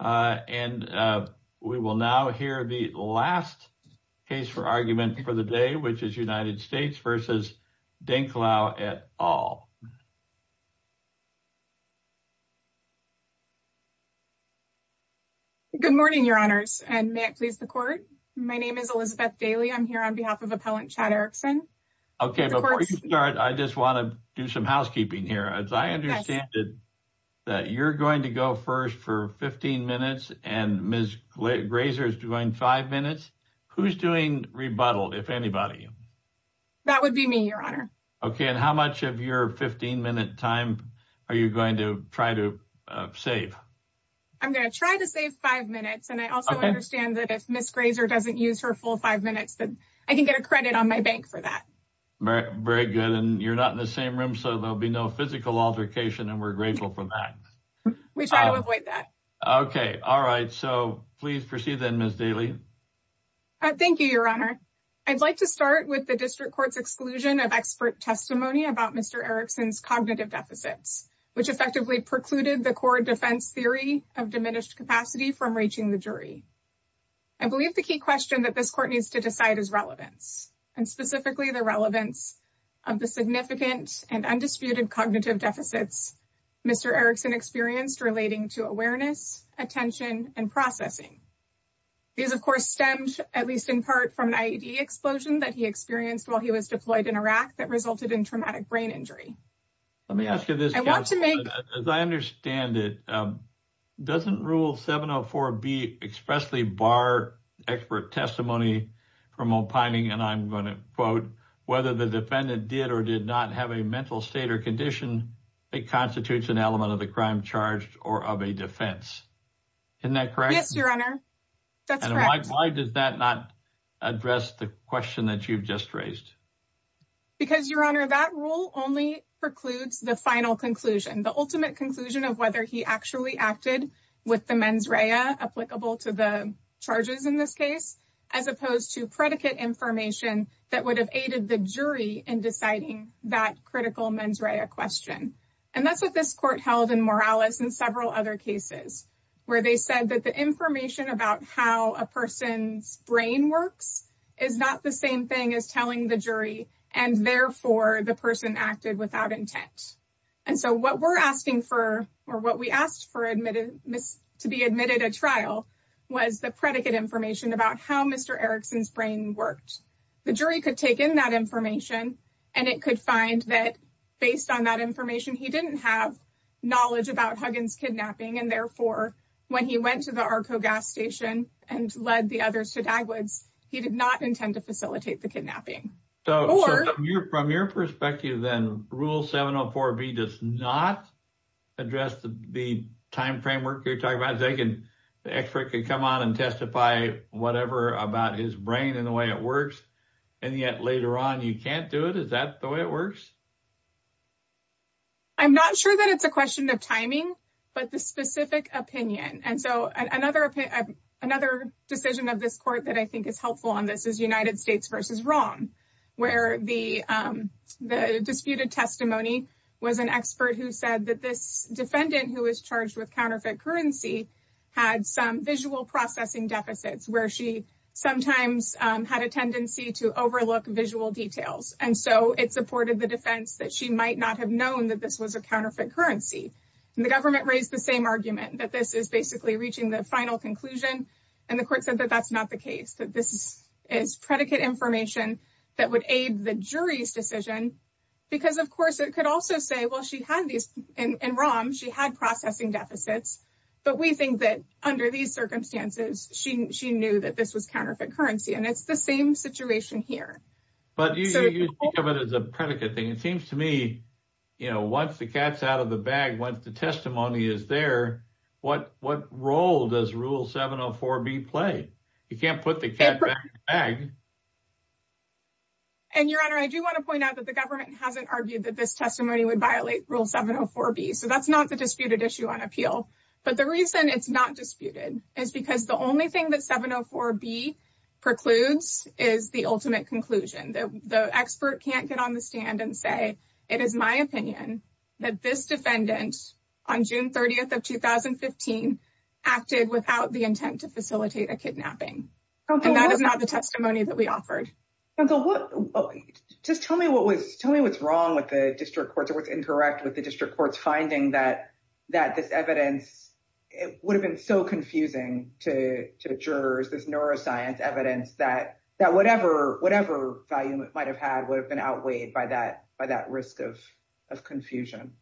And we will now hear the last case for argument for the day, which is United States v. Dencklau et al. Good morning, Your Honors, and may it please the Court. My name is Elizabeth Daly. I'm here on behalf of Appellant Chad Erickson. Okay, before you start, I just want to do some as I understand it, that you're going to go first for 15 minutes and Ms. Grazer is doing five minutes. Who's doing rebuttal, if anybody? That would be me, Your Honor. Okay, and how much of your 15-minute time are you going to try to save? I'm going to try to save five minutes, and I also understand that if Ms. Grazer doesn't use her full five minutes, then I can get a credit on my bank for that. Very good, and you're not in the same room, so there'll be no physical altercation, and we're grateful for that. We try to avoid that. Okay, all right, so please proceed then, Ms. Daly. Thank you, Your Honor. I'd like to start with the District Court's exclusion of expert testimony about Mr. Erickson's cognitive deficits, which effectively precluded the core defense theory of diminished capacity from reaching the jury. I believe the key question that this Court needs to decide is relevance, and specifically the relevance of the significant and undisputed cognitive deficits Mr. Erickson experienced relating to awareness, attention, and processing. These, of course, stemmed, at least in part, from an IED explosion that he experienced while he was deployed in Iraq that resulted in traumatic brain injury. Let me ask you this, Counselor. As I understand it, doesn't Rule 704B expressly bar expert testimony from opining, and I'm going to quote, whether the defendant did or did not have a mental state or condition that constitutes an element of the crime charged or of a defense. Isn't that correct? Yes, Your Honor, that's correct. And why does that not address the question that you've just raised? Because, Your Honor, that rule only precludes the final conclusion, the ultimate conclusion of whether he actually acted with the mens rea applicable to the charges in this case, as opposed to predicate information that would have aided the jury in deciding that critical mens rea question. And that's what this Court held in Morales and several other cases, where they said that the information about how a person's brain works is not the same thing as telling the jury, and therefore, the person acted without intent. And so what we're asking for, or what worked. The jury could take in that information, and it could find that based on that information, he didn't have knowledge about Huggins kidnapping, and therefore, when he went to the Arco gas station and led the others to Dagwoods, he did not intend to facilitate the kidnapping. So from your perspective, then, Rule 704B does not address the time framework you're talking about. The expert could come on and testify whatever about his brain and the way it works, and yet later on, you can't do it? Is that the way it works? I'm not sure that it's a question of timing, but the specific opinion. And so another decision of this Court that I think is helpful on this is United States v. Rom, where the disputed testimony was an expert who said that this defendant who was charged with counterfeit currency had some visual processing deficits, where she sometimes had a tendency to overlook visual details. And so it supported the defense that she might not have known that this was a counterfeit currency. And the government raised the same argument, that this is basically reaching the final conclusion, and the Court said that that's not the case, that this is predicate information that would aid the jury's decision. Because, of course, it could also say, well, she had these, in Rom, she had processing deficits, but we think that under these circumstances, she knew that this was counterfeit currency. And it's the same situation here. But you think of it as a predicate thing. It seems to me, you know, once the cat's out of the bag, once the testimony is there, what role does Rule 704B play? You can't put the cat back in the bag. And, Your Honor, I do want to point out that the government hasn't argued that this testimony would violate Rule 704B. So that's not the disputed issue on appeal. But the reason it's not disputed is because the only thing that 704B precludes is the ultimate conclusion. The expert can't get on the stand and say, it is my opinion that this defendant, on June 30th of 2015, acted without the intent to facilitate a kidnapping. And that is not the testimony that we offered. Just tell me what's wrong with the district courts or what's incorrect with the district courts finding that this evidence would have been so confusing to the jurors, this neuroscience evidence, that whatever value it might have had would have been outweighed by that risk of confusion.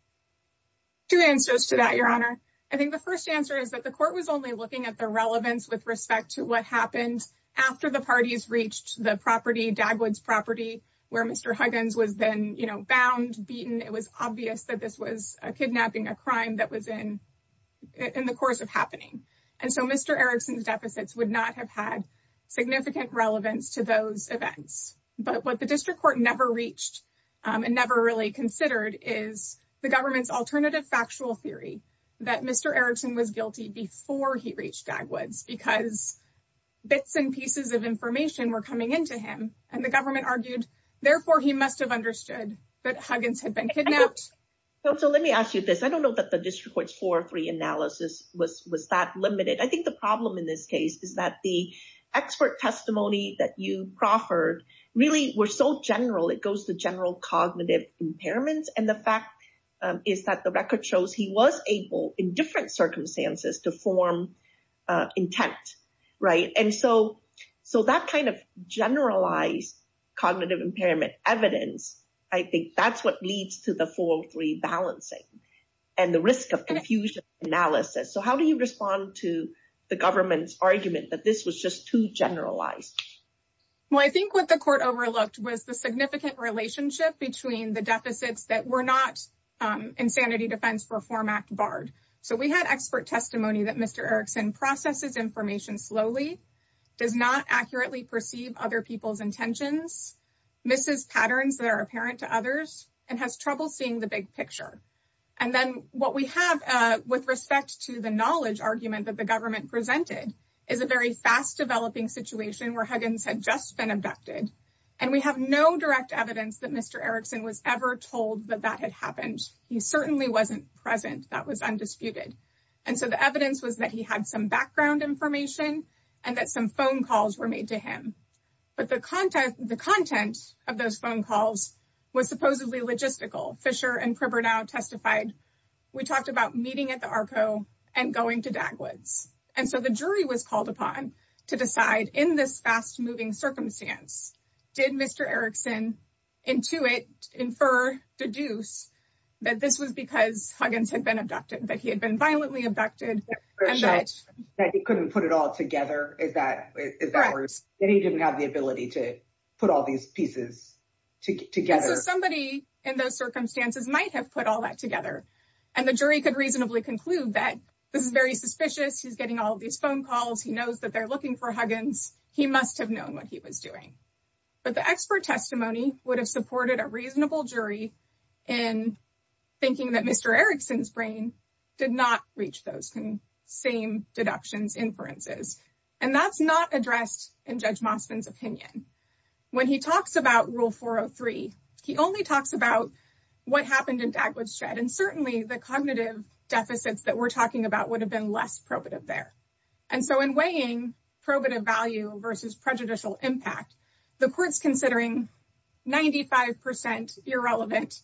Two answers to that, Your Honor. I think the first answer is that the court was only looking at the relevance with respect to what happened after the parties reached the property, Dagwood's property, where Mr. Huggins was then, you know, bound, beaten. It was obvious that this was a kidnapping, a crime that was in the course of happening. And so Mr. Erickson's testimony might have had significant relevance to those events. But what the district court never reached and never really considered is the government's alternative factual theory that Mr. Erickson was guilty before he reached Dagwood's because bits and pieces of information were coming into him. And the government argued, therefore, he must have understood that Huggins had been kidnapped. So let me ask you this. I don't know that the district court's 403 analysis was that limited. I think the problem in this case is that the expert testimony that you proffered really were so general. It goes to general cognitive impairments. And the fact is that the record shows he was able in different circumstances to form intent. Right. And so so that kind of generalized cognitive impairment evidence, I think that's what leads to the 403 balancing and the risk of confusion analysis. So how do you respond to the government's argument that this was just too generalized? Well, I think what the court overlooked was the significant relationship between the deficits that were not insanity defense reform act barred. So we had expert testimony that Mr. Erickson processes information slowly, does not accurately perceive other people's intentions, misses patterns that are apparent to others, and has trouble seeing the big picture. And then what we have with respect to the knowledge argument that the government presented is a very fast developing situation where Huggins had just been abducted. And we have no direct evidence that Mr. Erickson was ever told that that had happened. He certainly wasn't present. That was undisputed. And so the evidence was that he had some background information and that some phone calls were made to him. But the content of those phone calls was supposedly logistical. Fisher and Cripper now testified. We talked about meeting at the Arco and going to Dagwoods. And so the jury was called upon to decide in this fast moving circumstance, did Mr. Erickson intuit, infer, deduce that this was because Huggins had been abducted, that he had been violently abducted. That he couldn't put it all together. Is that correct? That he didn't have ability to put all these pieces together? Somebody in those circumstances might have put all that together. And the jury could reasonably conclude that this is very suspicious. He's getting all of these phone calls. He knows that they're looking for Huggins. He must have known what he was doing. But the expert testimony would have supported a reasonable jury in thinking that Mr. Erickson's brain did not reach those same deductions, inferences. And that's not addressed in Judge Mosvin's opinion. When he talks about Rule 403, he only talks about what happened in Dagwoods Shred. And certainly the cognitive deficits that we're talking about would have been less probative there. And so in weighing probative value versus prejudicial impact, the court's considering 95% irrelevant,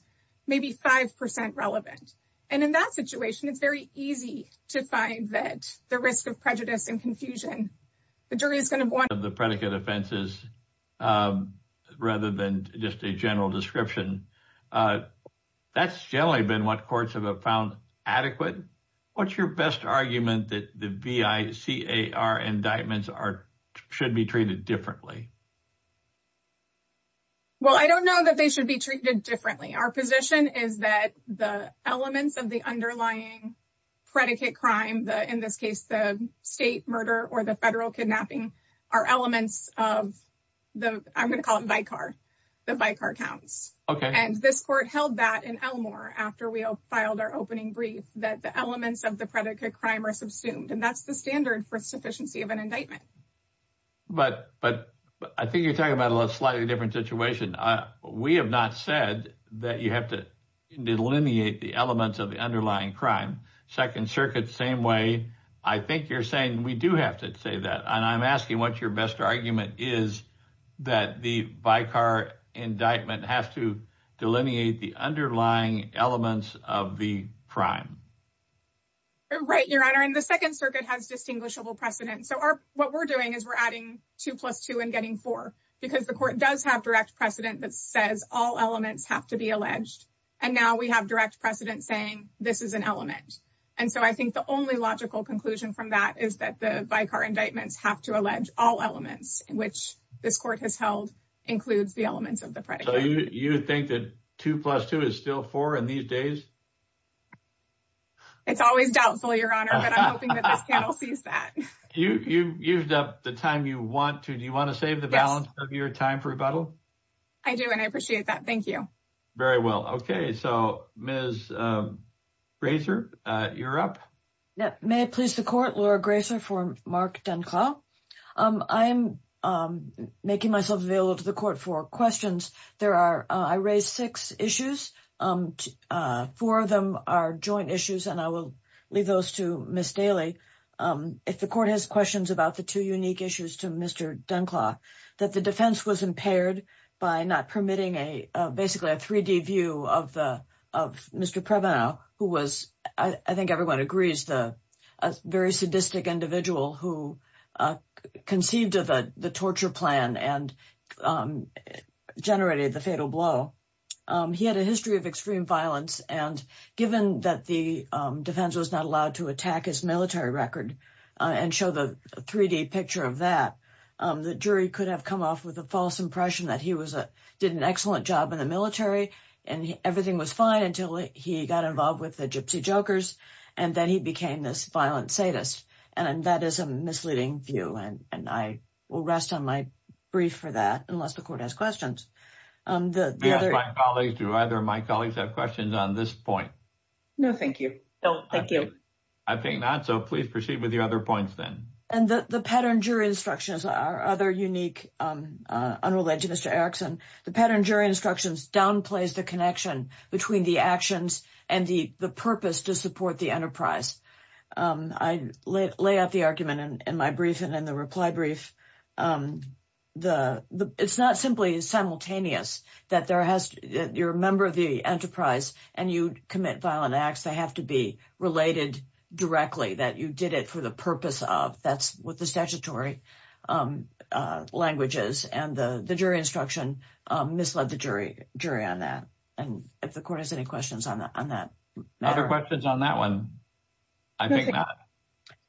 maybe 5% relevant. And in that situation, it's very easy to find that the risk of prejudice and confusion, the jury is going to want the predicate offenses rather than just a general description. That's generally been what courts have found adequate. What's your best argument that the VICAR indictments should be treated differently? Well, I don't know that they should be treated differently. Our position is that the elements of the underlying predicate crime, in this case, the state murder or the federal kidnapping are elements of the, I'm going to call it VICAR, the VICAR counts. And this court held that in Elmore after we filed our opening brief, that the elements of the predicate crime are subsumed. And that's the standard for sufficiency of an indictment. But I think you're talking about a slightly different situation. We have not said that you have to delineate the elements of the underlying crime. Second Circuit, same way. I think you're saying we do have to say that. And I'm asking what your best argument is that the VICAR indictment has to delineate the underlying elements of the crime. Right, Your Honor. And the Second Circuit has distinguishable precedent. So what we're doing is we're adding two plus two and getting four, because the court does have direct precedent that says all elements have to be alleged. And now we have direct precedent saying this is an element. And so I think the only logical conclusion from that is that the VICAR indictments have to allege all elements, which this court has held includes the elements of the predicate. So you think that two plus two is still four in these days? It's always doubtful, Your Honor, but I'm hoping that this panel sees that. You've used up the time you want to. Do you want to save the balance of your time for rebuttal? I do, and I appreciate that. Thank you. Very well. Okay. So, Ms. Grazer, you're up. May it please the court. Laura Grazer for Mark Dunclow. I'm making myself available to the court for questions. I raised six issues. Four of them are joint issues, and I will leave those to Ms. Daly. If the court has questions about the two unique issues to Mr. Dunclow, that the defense was impaired by not permitting basically a 3D view of Mr. Prevenow, who was, I think everyone agrees, a very sadistic individual who conceived of the torture plan and generated the fatal blow. He had a history of extreme violence, and given that the defense was not allowed to attack his military record and show the 3D picture of that, the jury could have come off with a false impression that he did an excellent job in the military and everything was fine until he got involved with the Gypsy Jokers, and then he became this violent sadist, and that is a misleading view, and I will rest on my brief for that unless the court has questions. Do either of my colleagues have questions on this point? No, thank you. No, thank you. I think not, so please proceed with your other points then. And the pattern jury instructions are other unique unrelated to Mr. Erickson. The pattern jury instructions downplays the connection between the actions and the purpose to support the enterprise. I lay out the argument in my brief and in the reply brief. It's not simply simultaneous that you're a member of the enterprise and you commit violent acts. They have to be related directly that you did it for the purpose of. That's what the statutory language is, and the jury instruction misled the jury on that, and if the court has any questions on that. Other questions on that one? I think not.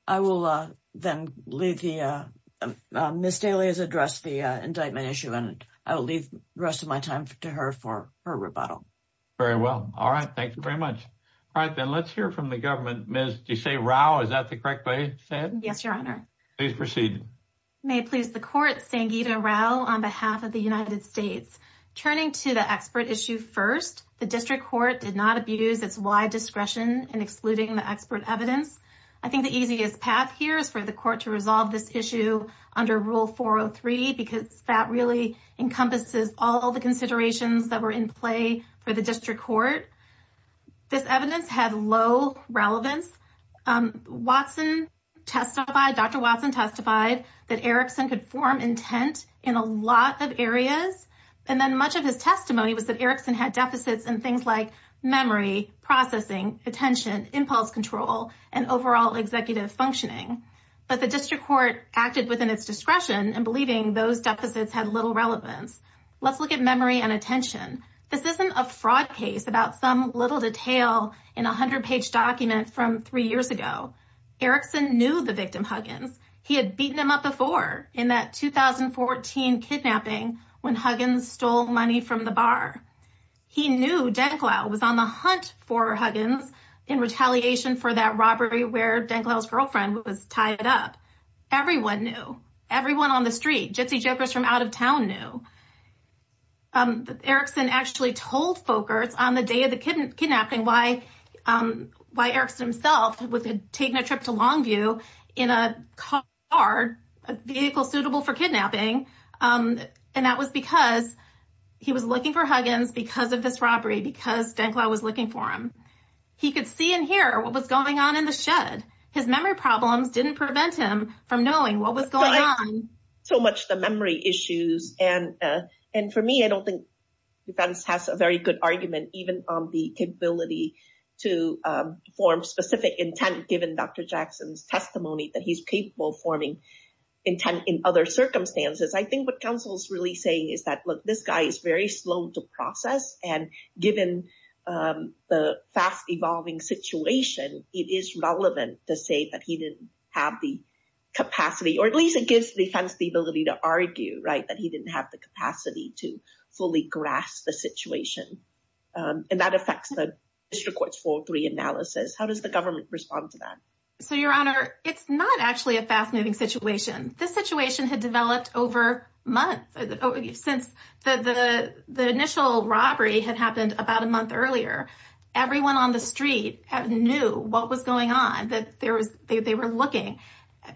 I will then leave. Ms. Daly has addressed the indictment issue, and I will leave the rest of my time to her for her rebuttal. Very well. All right. Thank you very much. All right, then let's hear from the government. Ms. Desai Rao, is that the correct way to say it? Yes, Your Honor. Please proceed. May it please the court, Sangita Rao on behalf of the United States. Turning to the expert issue first, the district court did not abuse its wide discretion in excluding the expert evidence. I think the easiest path here is for the court to resolve this issue under Rule 403 because that really encompasses all the considerations that were in play for the district court. This evidence had low relevance. Dr. Watson testified that Erickson could form intent in a lot of areas, and then much of his testimony was that Erickson had deficits in things like memory, processing, attention, impulse control, and overall executive functioning. But the district court acted within its discretion in believing those deficits had little relevance. Let's look at memory and attention. This isn't a fraud case about some little detail in a hundred-page document from three years ago. Erickson knew the victim Huggins. He had beaten him up before in that 2014 kidnapping when Huggins stole money from the bar. He knew Denklau was on the hunt for Huggins in retaliation for that robbery where Denklau's girlfriend was tied up. Everyone knew. Everyone on the street, gypsy jokers from out of town knew. Erickson actually told Folkerts on the day of the kidnapping why Erickson himself was taking a trip to Longview in a car, a vehicle suitable for kidnapping, and that was because he was looking for Huggins because of this robbery, because Denklau was looking for him. He could see and hear what was going on in the shed. His memory problems didn't prevent him from knowing what was going on. So much the memory issues, and for me, I don't think defense has a very good argument even on the capability to form specific intent given Dr. Jackson's testimony that he's capable of forming intent in other circumstances. I think what counsel's really saying is that, look, this guy is very slow to process, and given the fast-evolving situation, it is relevant to say that he didn't have the capacity, or at least it gives defense the ability to argue that he didn't have the capacity to fully grasp the situation, and that affects the district court's 403 analysis. How does the government respond to that? So, Your Honor, it's not actually a fast-moving situation. This situation had developed over months. Since the initial robbery had happened about a month earlier, everyone on the street knew what was going on, that they were looking.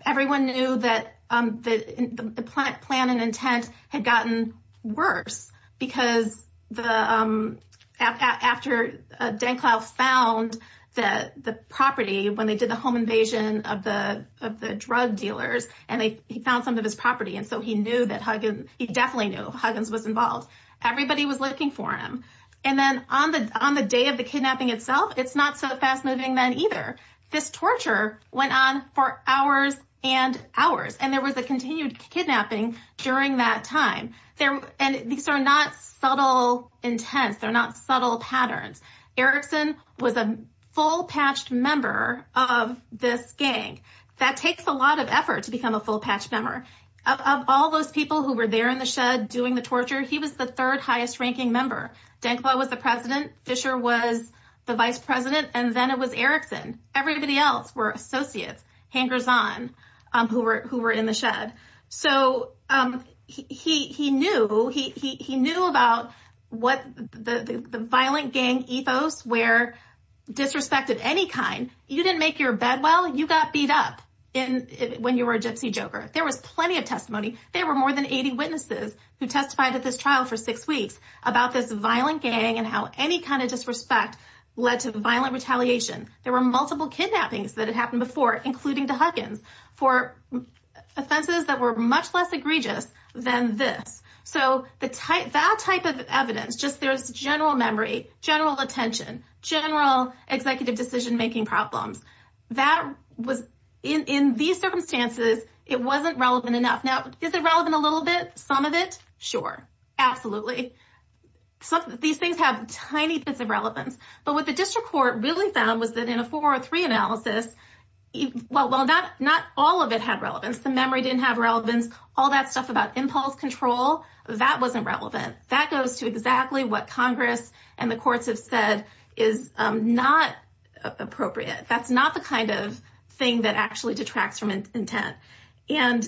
Everyone knew that the plan and intent had gotten worse, because after Denklau found the property when they did the home invasion of the drug dealers, and he found some of his property, and so he knew that Huggins, he definitely knew Huggins was involved. Everybody was looking for him, and then on the day of the kidnapping itself, it's not so fast-moving then either. This torture went on for hours and hours, and there was a continued kidnapping during that time, and these are not subtle intents. They're not subtle patterns. Erickson was a full-patched member of this gang. That takes a lot of effort to become a full-patched member. Of all those people who were there in the shed doing the torture, he was the third-highest ranking member. Denklau was the president, Fisher was the vice president, and then it was Erickson. Everybody else were associates, hangers-on, who were in the shed. So, he knew about what the violent gang ethos were, disrespected any kind. You didn't make your bed well, you got beat up when you were a gypsy joker. There was plenty of testimony. There were more than 80 witnesses who testified at this trial for six weeks about this violent gang and how any kind of disrespect led to violent retaliation. There were multiple kidnappings that had happened before, including to Huggins, for offenses that were much less egregious than this. So, that type of evidence, just there's general memory, general attention, general executive decision-making problems. In these circumstances, it wasn't relevant enough. Now, is it relevant a little bit? Some of it? Sure. Absolutely. These things have tiny bits of relevance. But what the district court really found was that in a four-or-three analysis, well, not all of it had relevance. The memory didn't have relevance. All that stuff about impulse control, that wasn't relevant. That goes to exactly what Congress and the courts have said is not appropriate. That's not the kind of thing that actually detracts from intent. And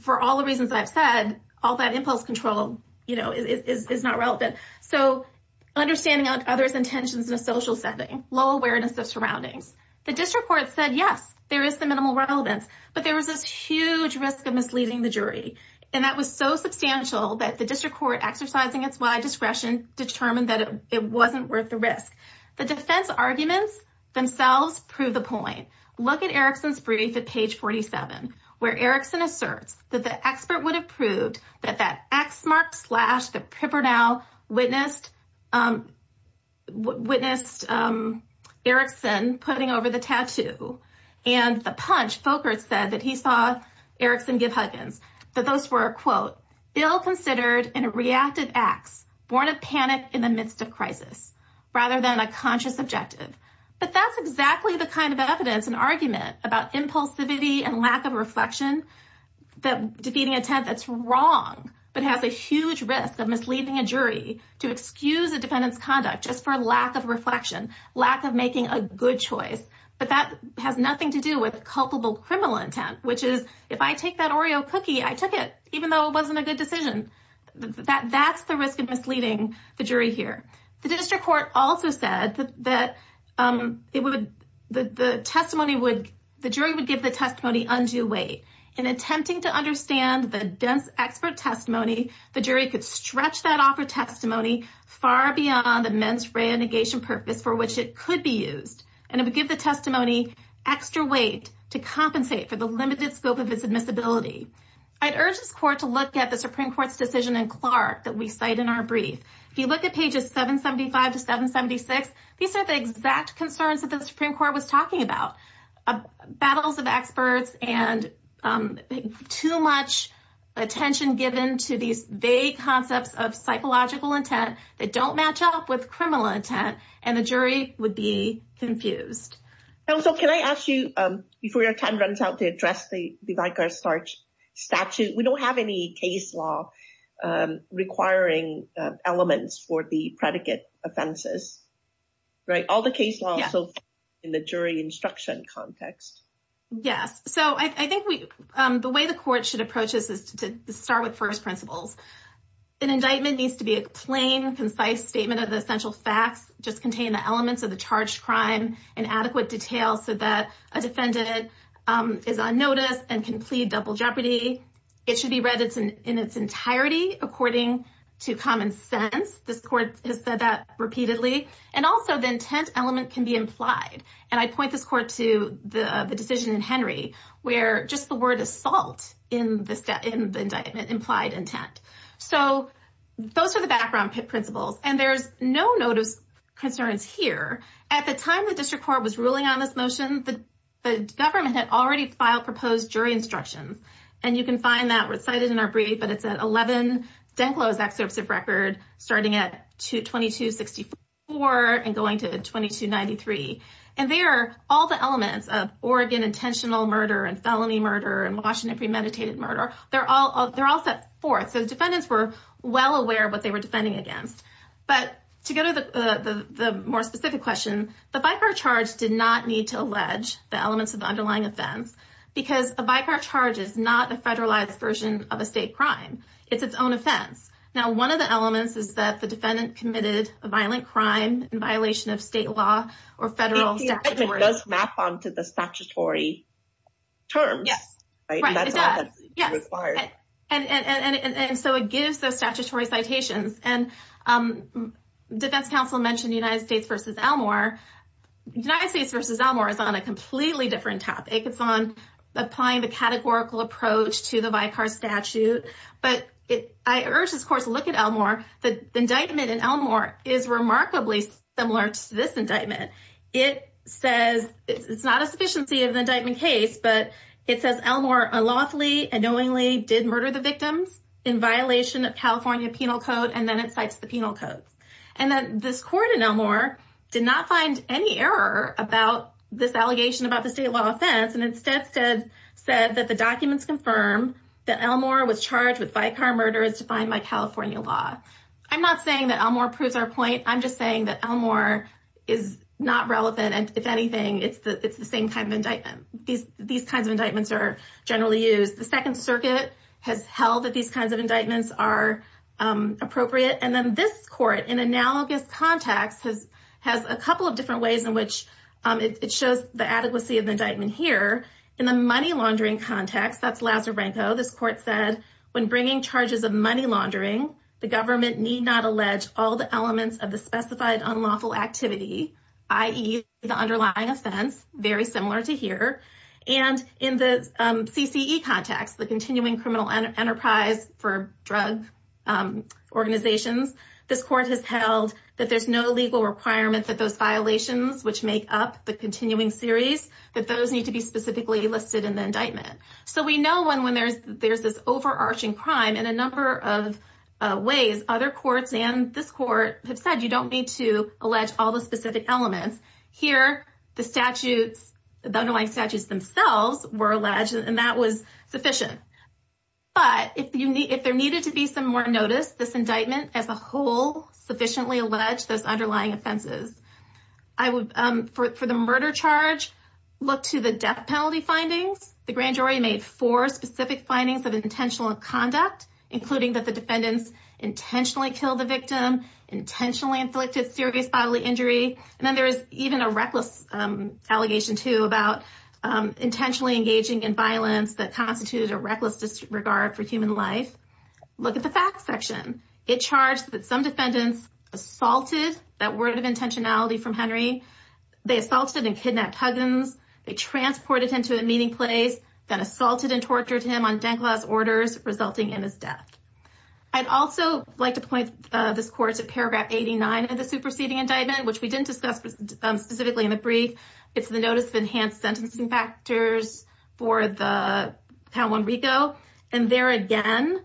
for all the reasons I've said, all that impulse control is not relevant. So, understanding others' intentions in a social setting, low awareness of surroundings. The district court said, yes, there is the minimal relevance, but there was huge risk of misleading the jury. And that was so substantial that the district court, exercising its wide discretion, determined that it wasn't worth the risk. The defense arguments themselves prove the point. Look at Erickson's brief at page 47, where Erickson asserts that the expert would have proved that that ex-mark-slash-the-prip-or-now witnessed Erickson putting over the tattoo. And the punch, Folkert said that he saw Erickson give huggins, that those were, quote, ill-considered and reactive acts, born of panic in the midst of crisis, rather than a conscious objective. But that's exactly the kind of evidence and argument about impulsivity and lack of reflection, that defeating intent that's wrong, but has a huge risk of misleading a jury to excuse defendant's conduct just for lack of reflection, lack of making a good choice. But that has nothing to do with culpable criminal intent, which is, if I take that Oreo cookie, I took it, even though it wasn't a good decision. That's the risk of misleading the jury here. The district court also said that the jury would give the testimony undue weight. In attempting to understand the dense expert testimony, the jury could stretch that offer far beyond the men's renegation purpose for which it could be used. And it would give the testimony extra weight to compensate for the limited scope of its admissibility. I'd urge this court to look at the Supreme Court's decision in Clark that we cite in our brief. If you look at pages 775 to 776, these are the exact concerns that the Supreme Court was talking about. Battles of experts and too much attention given to these vague concepts of psychological intent that don't match up with criminal intent, and the jury would be confused. So can I ask you, before your time runs out, to address the Vigar-Starch statute. We don't have any case law requiring elements for the predicate offenses, right? All the case law so far in the jury instruction context. Yes. So I think the way the court should approach this is to start with first principles. An indictment needs to be a plain, concise statement of the essential facts, just contain the elements of the charged crime in adequate detail so that a defendant is on notice and can plead double jeopardy. It should be read in its entirety according to common sense. This court has said that repeatedly, and also the intent element can be implied. And I point this court to the decision in Henry where just the word assault in the indictment implied intent. So those are the background principles, and there's no notice concerns here. At the time the district court was ruling on this motion, the government had already filed proposed jury instructions, and you can find that recited in our brief, but it's at 11 enclosed excerpts of record starting at 2264 and going to 2293. And there are all the elements of Oregon intentional murder and felony murder and Washington premeditated murder. They're all set forth. So the defendants were well aware of what they were defending against. But to go to the more specific question, the Vigar charge did not need to allege the elements of the underlying offense because a Vigar charge is not a federalized version of a state crime. It's its own offense. Now, one of the elements is that the defendant committed a violent crime in violation of state law or federal statutory. If it does map onto the statutory terms. Yes. And so it gives those statutory citations. And defense counsel mentioned United States versus Elmore. United States versus Elmore is on a completely different topic. It's on applying the categorical approach to the Vigar statute. But I urge, of course, look at Elmore. The indictment in Elmore is remarkably similar to this indictment. It says it's not a sufficiency of the indictment case, but it says Elmore unlawfully and knowingly did murder the victims in violation of California penal code. And then it cites the And then this court in Elmore did not find any error about this allegation about the state law offense and instead said that the documents confirm that Elmore was charged with Vigar murders defined by California law. I'm not saying that Elmore proves our point. I'm just saying that Elmore is not relevant. And if anything, it's the same kind of indictment. These kinds of indictments are generally used. The Second Circuit has held that these kinds of indictments are appropriate. And then this court in analogous context has a couple of different ways in which it shows the adequacy of the indictment here. In the money laundering context, that's Lazar Branko. This court said when bringing charges of money laundering, the government need not allege all the elements of the specified unlawful activity, i.e. the underlying offense, very similar to here. And in the CCE context, the continuing criminal enterprise for drug organizations, this court has held that there's no legal requirement that those violations which make up the continuing series, that those need to be specifically listed in the indictment. So we know when there's this overarching crime in a number of ways, other courts and this court have said you don't need to allege all the specific elements. Here, the underlying statutes themselves were alleged and that was sufficient. But if there needed to be some more notice, this indictment as a whole sufficiently alleged those underlying offenses. For the murder charge, look to the death penalty findings. The grand jury made four specific findings of intentional conduct, including that the defendants intentionally killed the victim, intentionally inflicted serious bodily injury. And then there is even a reckless allegation too about intentionally engaging in violence that constituted a reckless disregard for human life. Look at the facts section. It charged that some defendants assaulted, that word of intentionality from Henry, they assaulted and kidnapped Huggins, they transported him to a meeting place, then assaulted and tortured him on Denglas orders resulting in his death. I'd also like to point this court to paragraph 89 of the superseding indictment, which we didn't discuss specifically in the brief. It's the notice of enhanced sentencing factors for the pound one Rico. And there again,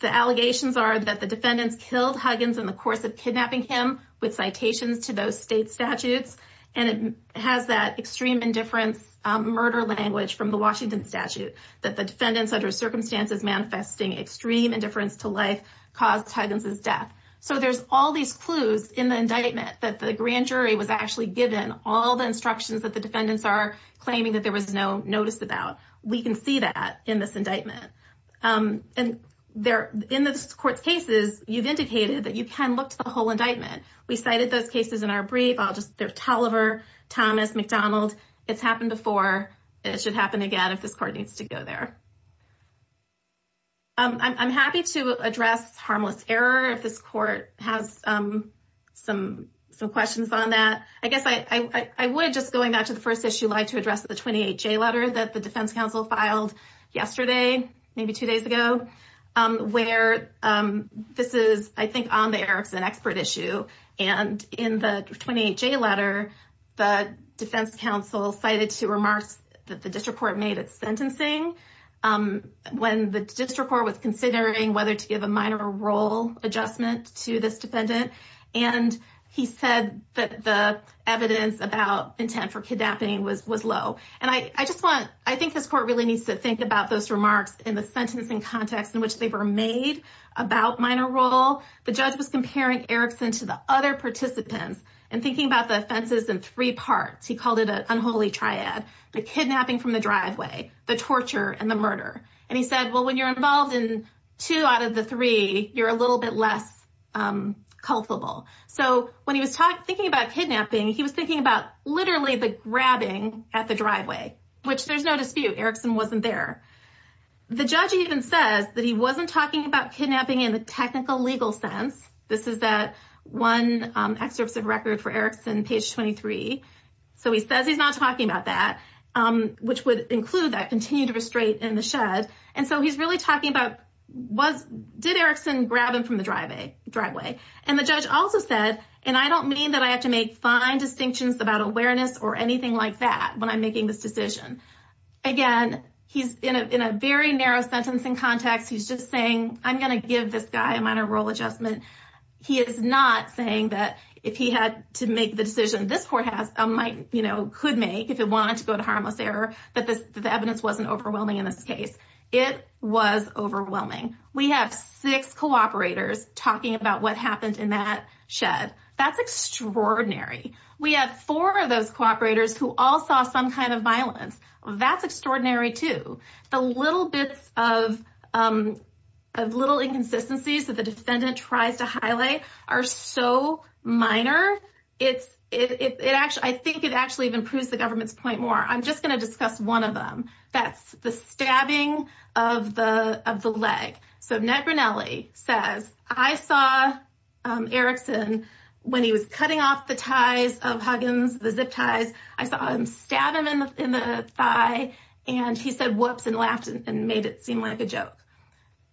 the allegations are that the defendants killed Huggins in the course of kidnapping him with citations to those state statutes. And it has that extreme indifference, murder language from the Washington statute, that the defendants under circumstances manifesting extreme indifference to life caused Huggins' death. So there's all these clues in the indictment that the grand jury was actually given all the instructions that the defendants are claiming that there was no notice about. We can see that in this indictment. And in this court's cases, you've indicated that you can look to the whole indictment. We cited those cases in our brief. I'll just, there's there. I'm happy to address harmless error if this court has some questions on that. I guess I would just going back to the first issue, like to address the 28 J letter that the defense counsel filed yesterday, maybe two days ago, where this is, I think on the air, it's an expert issue. And in the 28 J letter, the defense counsel cited two remarks that the judge was making when the district court was considering whether to give a minor role adjustment to this defendant. And he said that the evidence about intent for kidnapping was low. And I just want, I think this court really needs to think about those remarks in the sentencing context in which they were made about minor role. The judge was comparing Erikson to the other participants and thinking about the offenses in three parts. He called it an unholy triad, the kidnapping from the driveway, the torture and the murder. And he said, well, when you're involved in two out of the three, you're a little bit less culpable. So when he was talking, thinking about kidnapping, he was thinking about literally the grabbing at the driveway, which there's no dispute, Erikson wasn't there. The judge even says that he wasn't talking about kidnapping in the technical legal sense. This is that one excerpts of record for Erikson page 23. So he says he's not talking about that, which would include that continued restraint in the shed. And so he's really talking about was, did Erikson grab him from the driveway? And the judge also said, and I don't mean that I have to make fine distinctions about awareness or anything like that when I'm making this decision. Again, he's in a very narrow sentencing context. He's just saying, I'm going to give this guy a minor role adjustment. He is not saying that if he had to make the decision, this court could make if it wanted to go to harmless error, that the evidence wasn't overwhelming in this case. It was overwhelming. We have six cooperators talking about what happened in that shed. That's extraordinary. We have four of those cooperators who all saw some kind of violence. That's extraordinary too. The little bits of little inconsistencies that the defendant tries to highlight are so minor. I think it actually even proves the government's point more. I'm just going to discuss one of them. That's the stabbing of the leg. So Ned Grinelli says, I saw Erikson when he was cutting off the ties of Huggins, the zip ties, I saw him stab him in the thigh. And he said, whoops, and laughed and made it seem like a joke.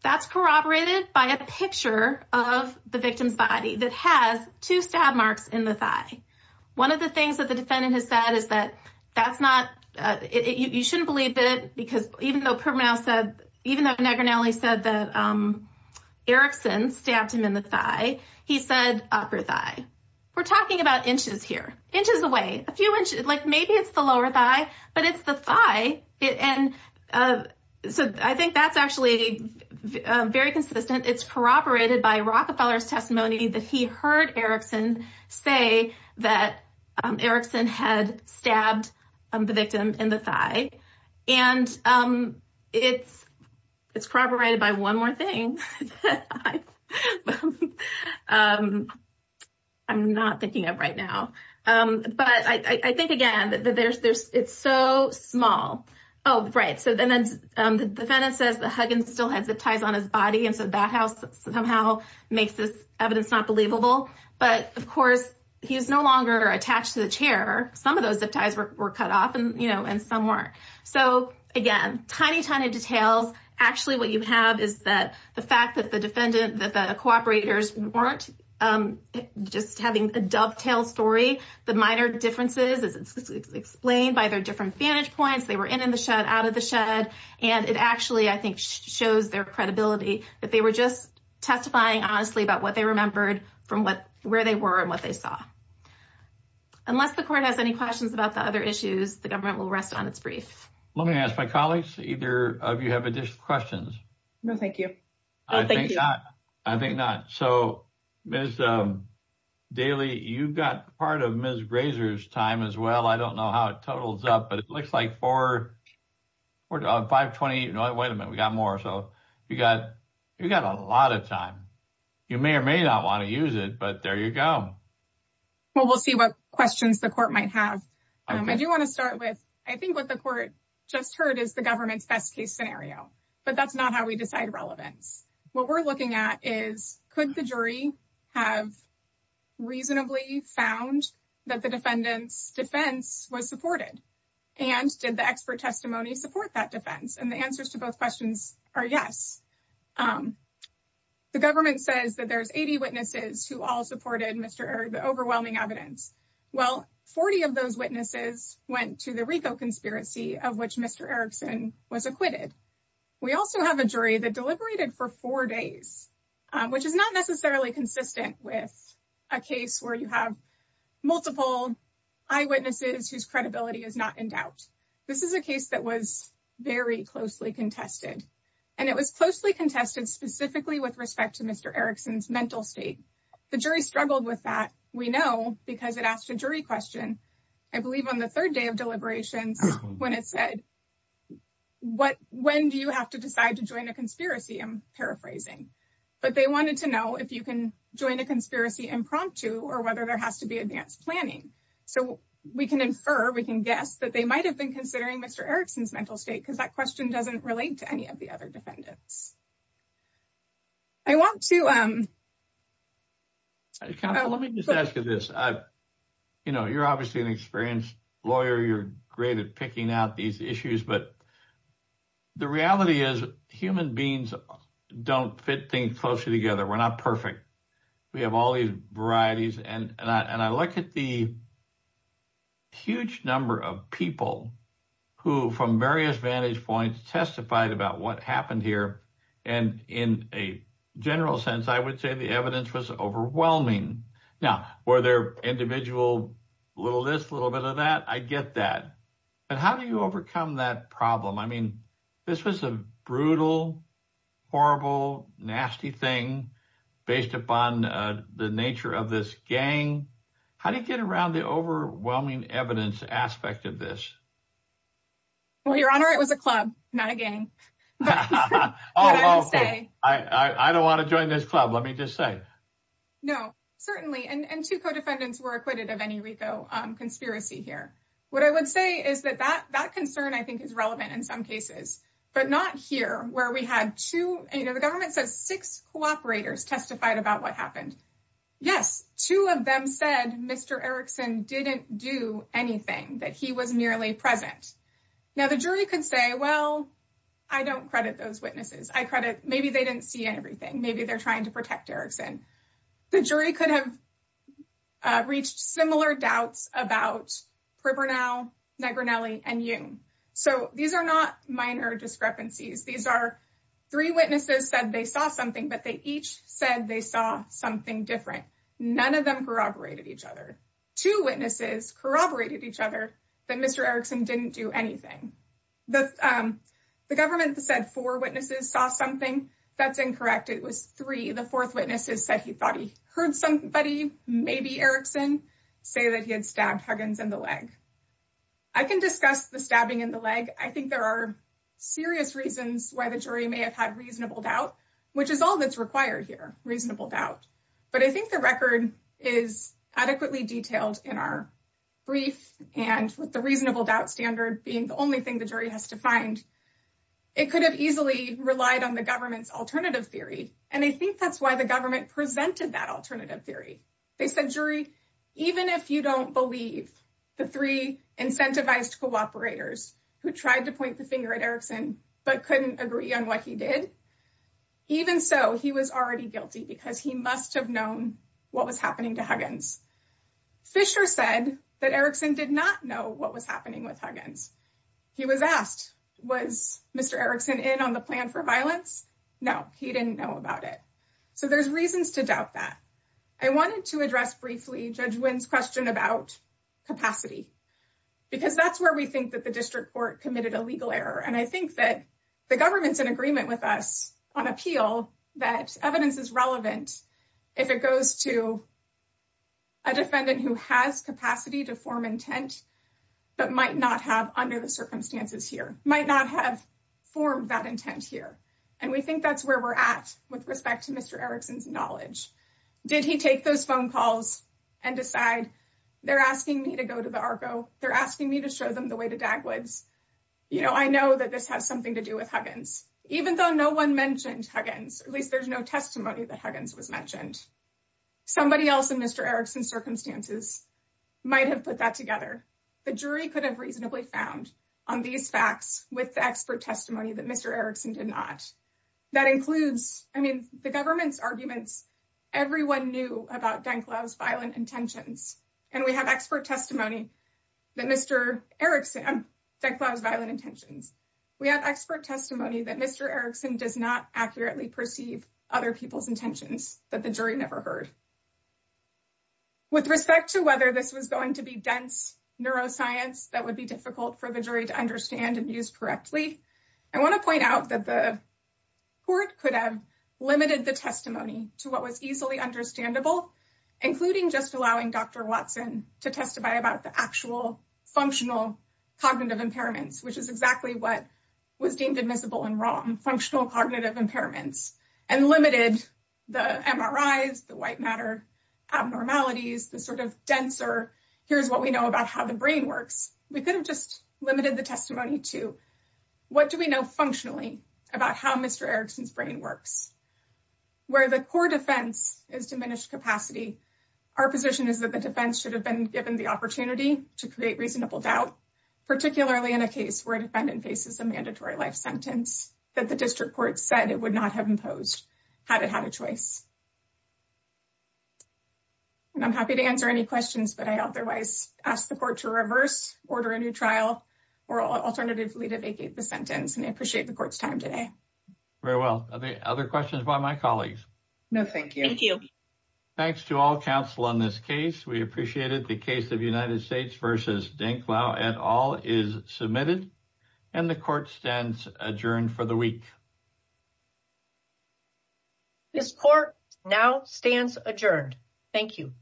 That's corroborated by a picture of the victim's body that has two stab marks in the thigh. One of the things that the defendant has said is that, that's not, you shouldn't believe it because even though Permanel said, even though Ned Grinelli said that Erikson stabbed him in the thigh, he said upper thigh. We're talking about inches here, inches away, a few inches, like maybe it's the lower thigh, but it's the thigh. And so I think that's actually very consistent. It's corroborated by Rockefeller's testimony that he heard Erikson say that Erikson had stabbed the victim in the thigh. And it's corroborated by one more thing that I'm not thinking of right now. But I think again, that there's, it's so small. Oh, right. So then the defendant says that Huggins still had zip ties on his body. And so that house somehow makes this evidence not believable. But of course, he's no longer attached to the chair. Some of those zip ties were cut off and some weren't. So again, tiny, tiny details. Actually, what you have is that the fact that the defendant, that the cooperators weren't just having a dovetail story, the minor differences is explained by their different vantage points. They were in, in the shed, out of the shed. And it actually, I think, shows their credibility that they were just testifying honestly about what they remembered from where they were and what they saw. Unless the court has any questions about the other issues, the government will rest on its brief. Let me ask my colleagues, either of you have additional questions? No, thank you. I think not. I think not. So, Ms. Daly, you've got part of Ms. Grazer's time as well. I don't know how it totals up, but it looks like four, five, 20. No, wait a minute. We got more. So you got, you got a lot of time. You may or may not want to use it, but there you go. Well, we'll see what questions the court might have. I do want to start with, I think what the court just heard is the government's best case scenario, but that's not how we decide relevance. What we're looking at is could the jury have reasonably found that the defendant's defense was supported and did the expert testimony support that defense? And the answers to both questions are yes. The government says that there's 80 witnesses who all supported Mr. Erd, the overwhelming evidence. Well, 40 of those went to the RICO conspiracy of which Mr. Erickson was acquitted. We also have a jury that deliberated for four days, which is not necessarily consistent with a case where you have multiple eyewitnesses whose credibility is not in doubt. This is a case that was very closely contested and it was closely contested specifically with respect to Mr. Erickson's mental state. The jury struggled with that. We know because it asked a jury question, I believe on the third day of deliberations when it said, when do you have to decide to join a conspiracy? I'm paraphrasing, but they wanted to know if you can join a conspiracy impromptu or whether there has to be advanced planning. So we can infer, we can guess that they might've been considering Mr. Erickson's mental state because that question doesn't relate to any of the other defendants. Let me just ask you this. You're obviously an experienced lawyer. You're great at picking out these issues, but the reality is human beings don't fit things closely together. We're not perfect. We have all these varieties and I look at the huge number of people who from various points testified about what happened here. And in a general sense, I would say the evidence was overwhelming. Now, were there individual little this, little bit of that? I get that. But how do you overcome that problem? I mean, this was a brutal, horrible, nasty thing based upon the nature of this gang. How do you get around the overwhelming evidence aspect of this? Well, Your Honor, it was a club, not a gang. I don't want to join this club. Let me just say. No, certainly. And two co-defendants were acquitted of any RICO conspiracy here. What I would say is that that concern I think is relevant in some cases, but not here where we had two, you know, the government says six cooperators testified about what happened. Yes. Two of them said Mr. Erickson didn't do anything, that he was merely present. Now the jury could say, well, I don't credit those witnesses. I credit, maybe they didn't see everything. Maybe they're trying to protect Erickson. The jury could have reached similar doubts about Pribirnow, Negrinelli, and Jung. So these are not minor discrepancies. These are three witnesses said they saw something, but they each said they saw something different. None of them corroborated each other. Two witnesses corroborated each other that Mr. Erickson didn't do anything. The government said four witnesses saw something. That's incorrect. It was three. The fourth witnesses said he thought he heard somebody, maybe Erickson, say that he had stabbed Huggins in the leg. I can discuss the stabbing in the leg. I think there are serious reasons why the jury may have had reasonable doubt, which is all that's required here, reasonable doubt. But I think the record is adequately detailed in our brief. And with the reasonable doubt standard being the only thing the jury has to find, it could have easily relied on the government's alternative theory. And I think that's why the government presented that alternative theory. They said, jury, even if you don't believe the three incentivized cooperators who tried to point the finger at Erickson but couldn't agree on what he did, even so, he was already guilty because he must have known what was happening to Huggins. Fisher said that Erickson did not know what was happening with Huggins. He was asked, was Mr. Erickson in on the plan for violence? No, he didn't know about it. So there's reasons to doubt that. I wanted to address briefly Judge Wynn's question about capacity, because that's we think that the district court committed a legal error. And I think that the government's in agreement with us on appeal, that evidence is relevant if it goes to a defendant who has capacity to form intent, but might not have under the circumstances here, might not have formed that intent here. And we think that's where we're at with respect to Mr. Erickson's knowledge. Did he take those phone calls and decide, they're asking me to go to the Argo, they're asking me to show them the way to Dagwoods. I know that this has something to do with Huggins, even though no one mentioned Huggins, at least there's no testimony that Huggins was mentioned. Somebody else in Mr. Erickson's circumstances might have put that together. The jury could have reasonably found on these facts with the expert testimony that Mr. Erickson did not. That includes, I mean, the government's arguments, everyone knew about Denklau's violent intentions. And we have expert testimony that Mr. Erickson, Denklau's violent intentions. We have expert testimony that Mr. Erickson does not accurately perceive other people's intentions that the jury never heard. With respect to whether this was going to be dense neuroscience that would be difficult for the jury to understand and use correctly, I want to point out that the court could have limited the testimony to what was easily understandable, including just allowing Dr. Watson to testify about the actual functional cognitive impairments, which is exactly what was deemed admissible and wrong, functional cognitive impairments, and limited the MRIs, the white matter abnormalities, the sort of denser, here's what we know about how the brain works. We could have just limited the testimony to what do we know functionally about how Mr. Erickson's brain works. Where the core defense is diminished capacity, our position is that the defense should have been given the opportunity to create reasonable doubt, particularly in a case where a defendant faces a mandatory life sentence that the district court said it would not have imposed had it had a choice. And I'm happy to answer any questions that I otherwise ask the court to reverse, order a new trial, or alternatively to vacate the sentence. And I appreciate the court's time today. Very well. Are there other questions by my colleagues? No, thank you. Thank you. Thanks to all counsel on this case. We appreciated the case of United States versus Dinklau et al is submitted and the court stands adjourned for the week. This court now stands adjourned. Thank you.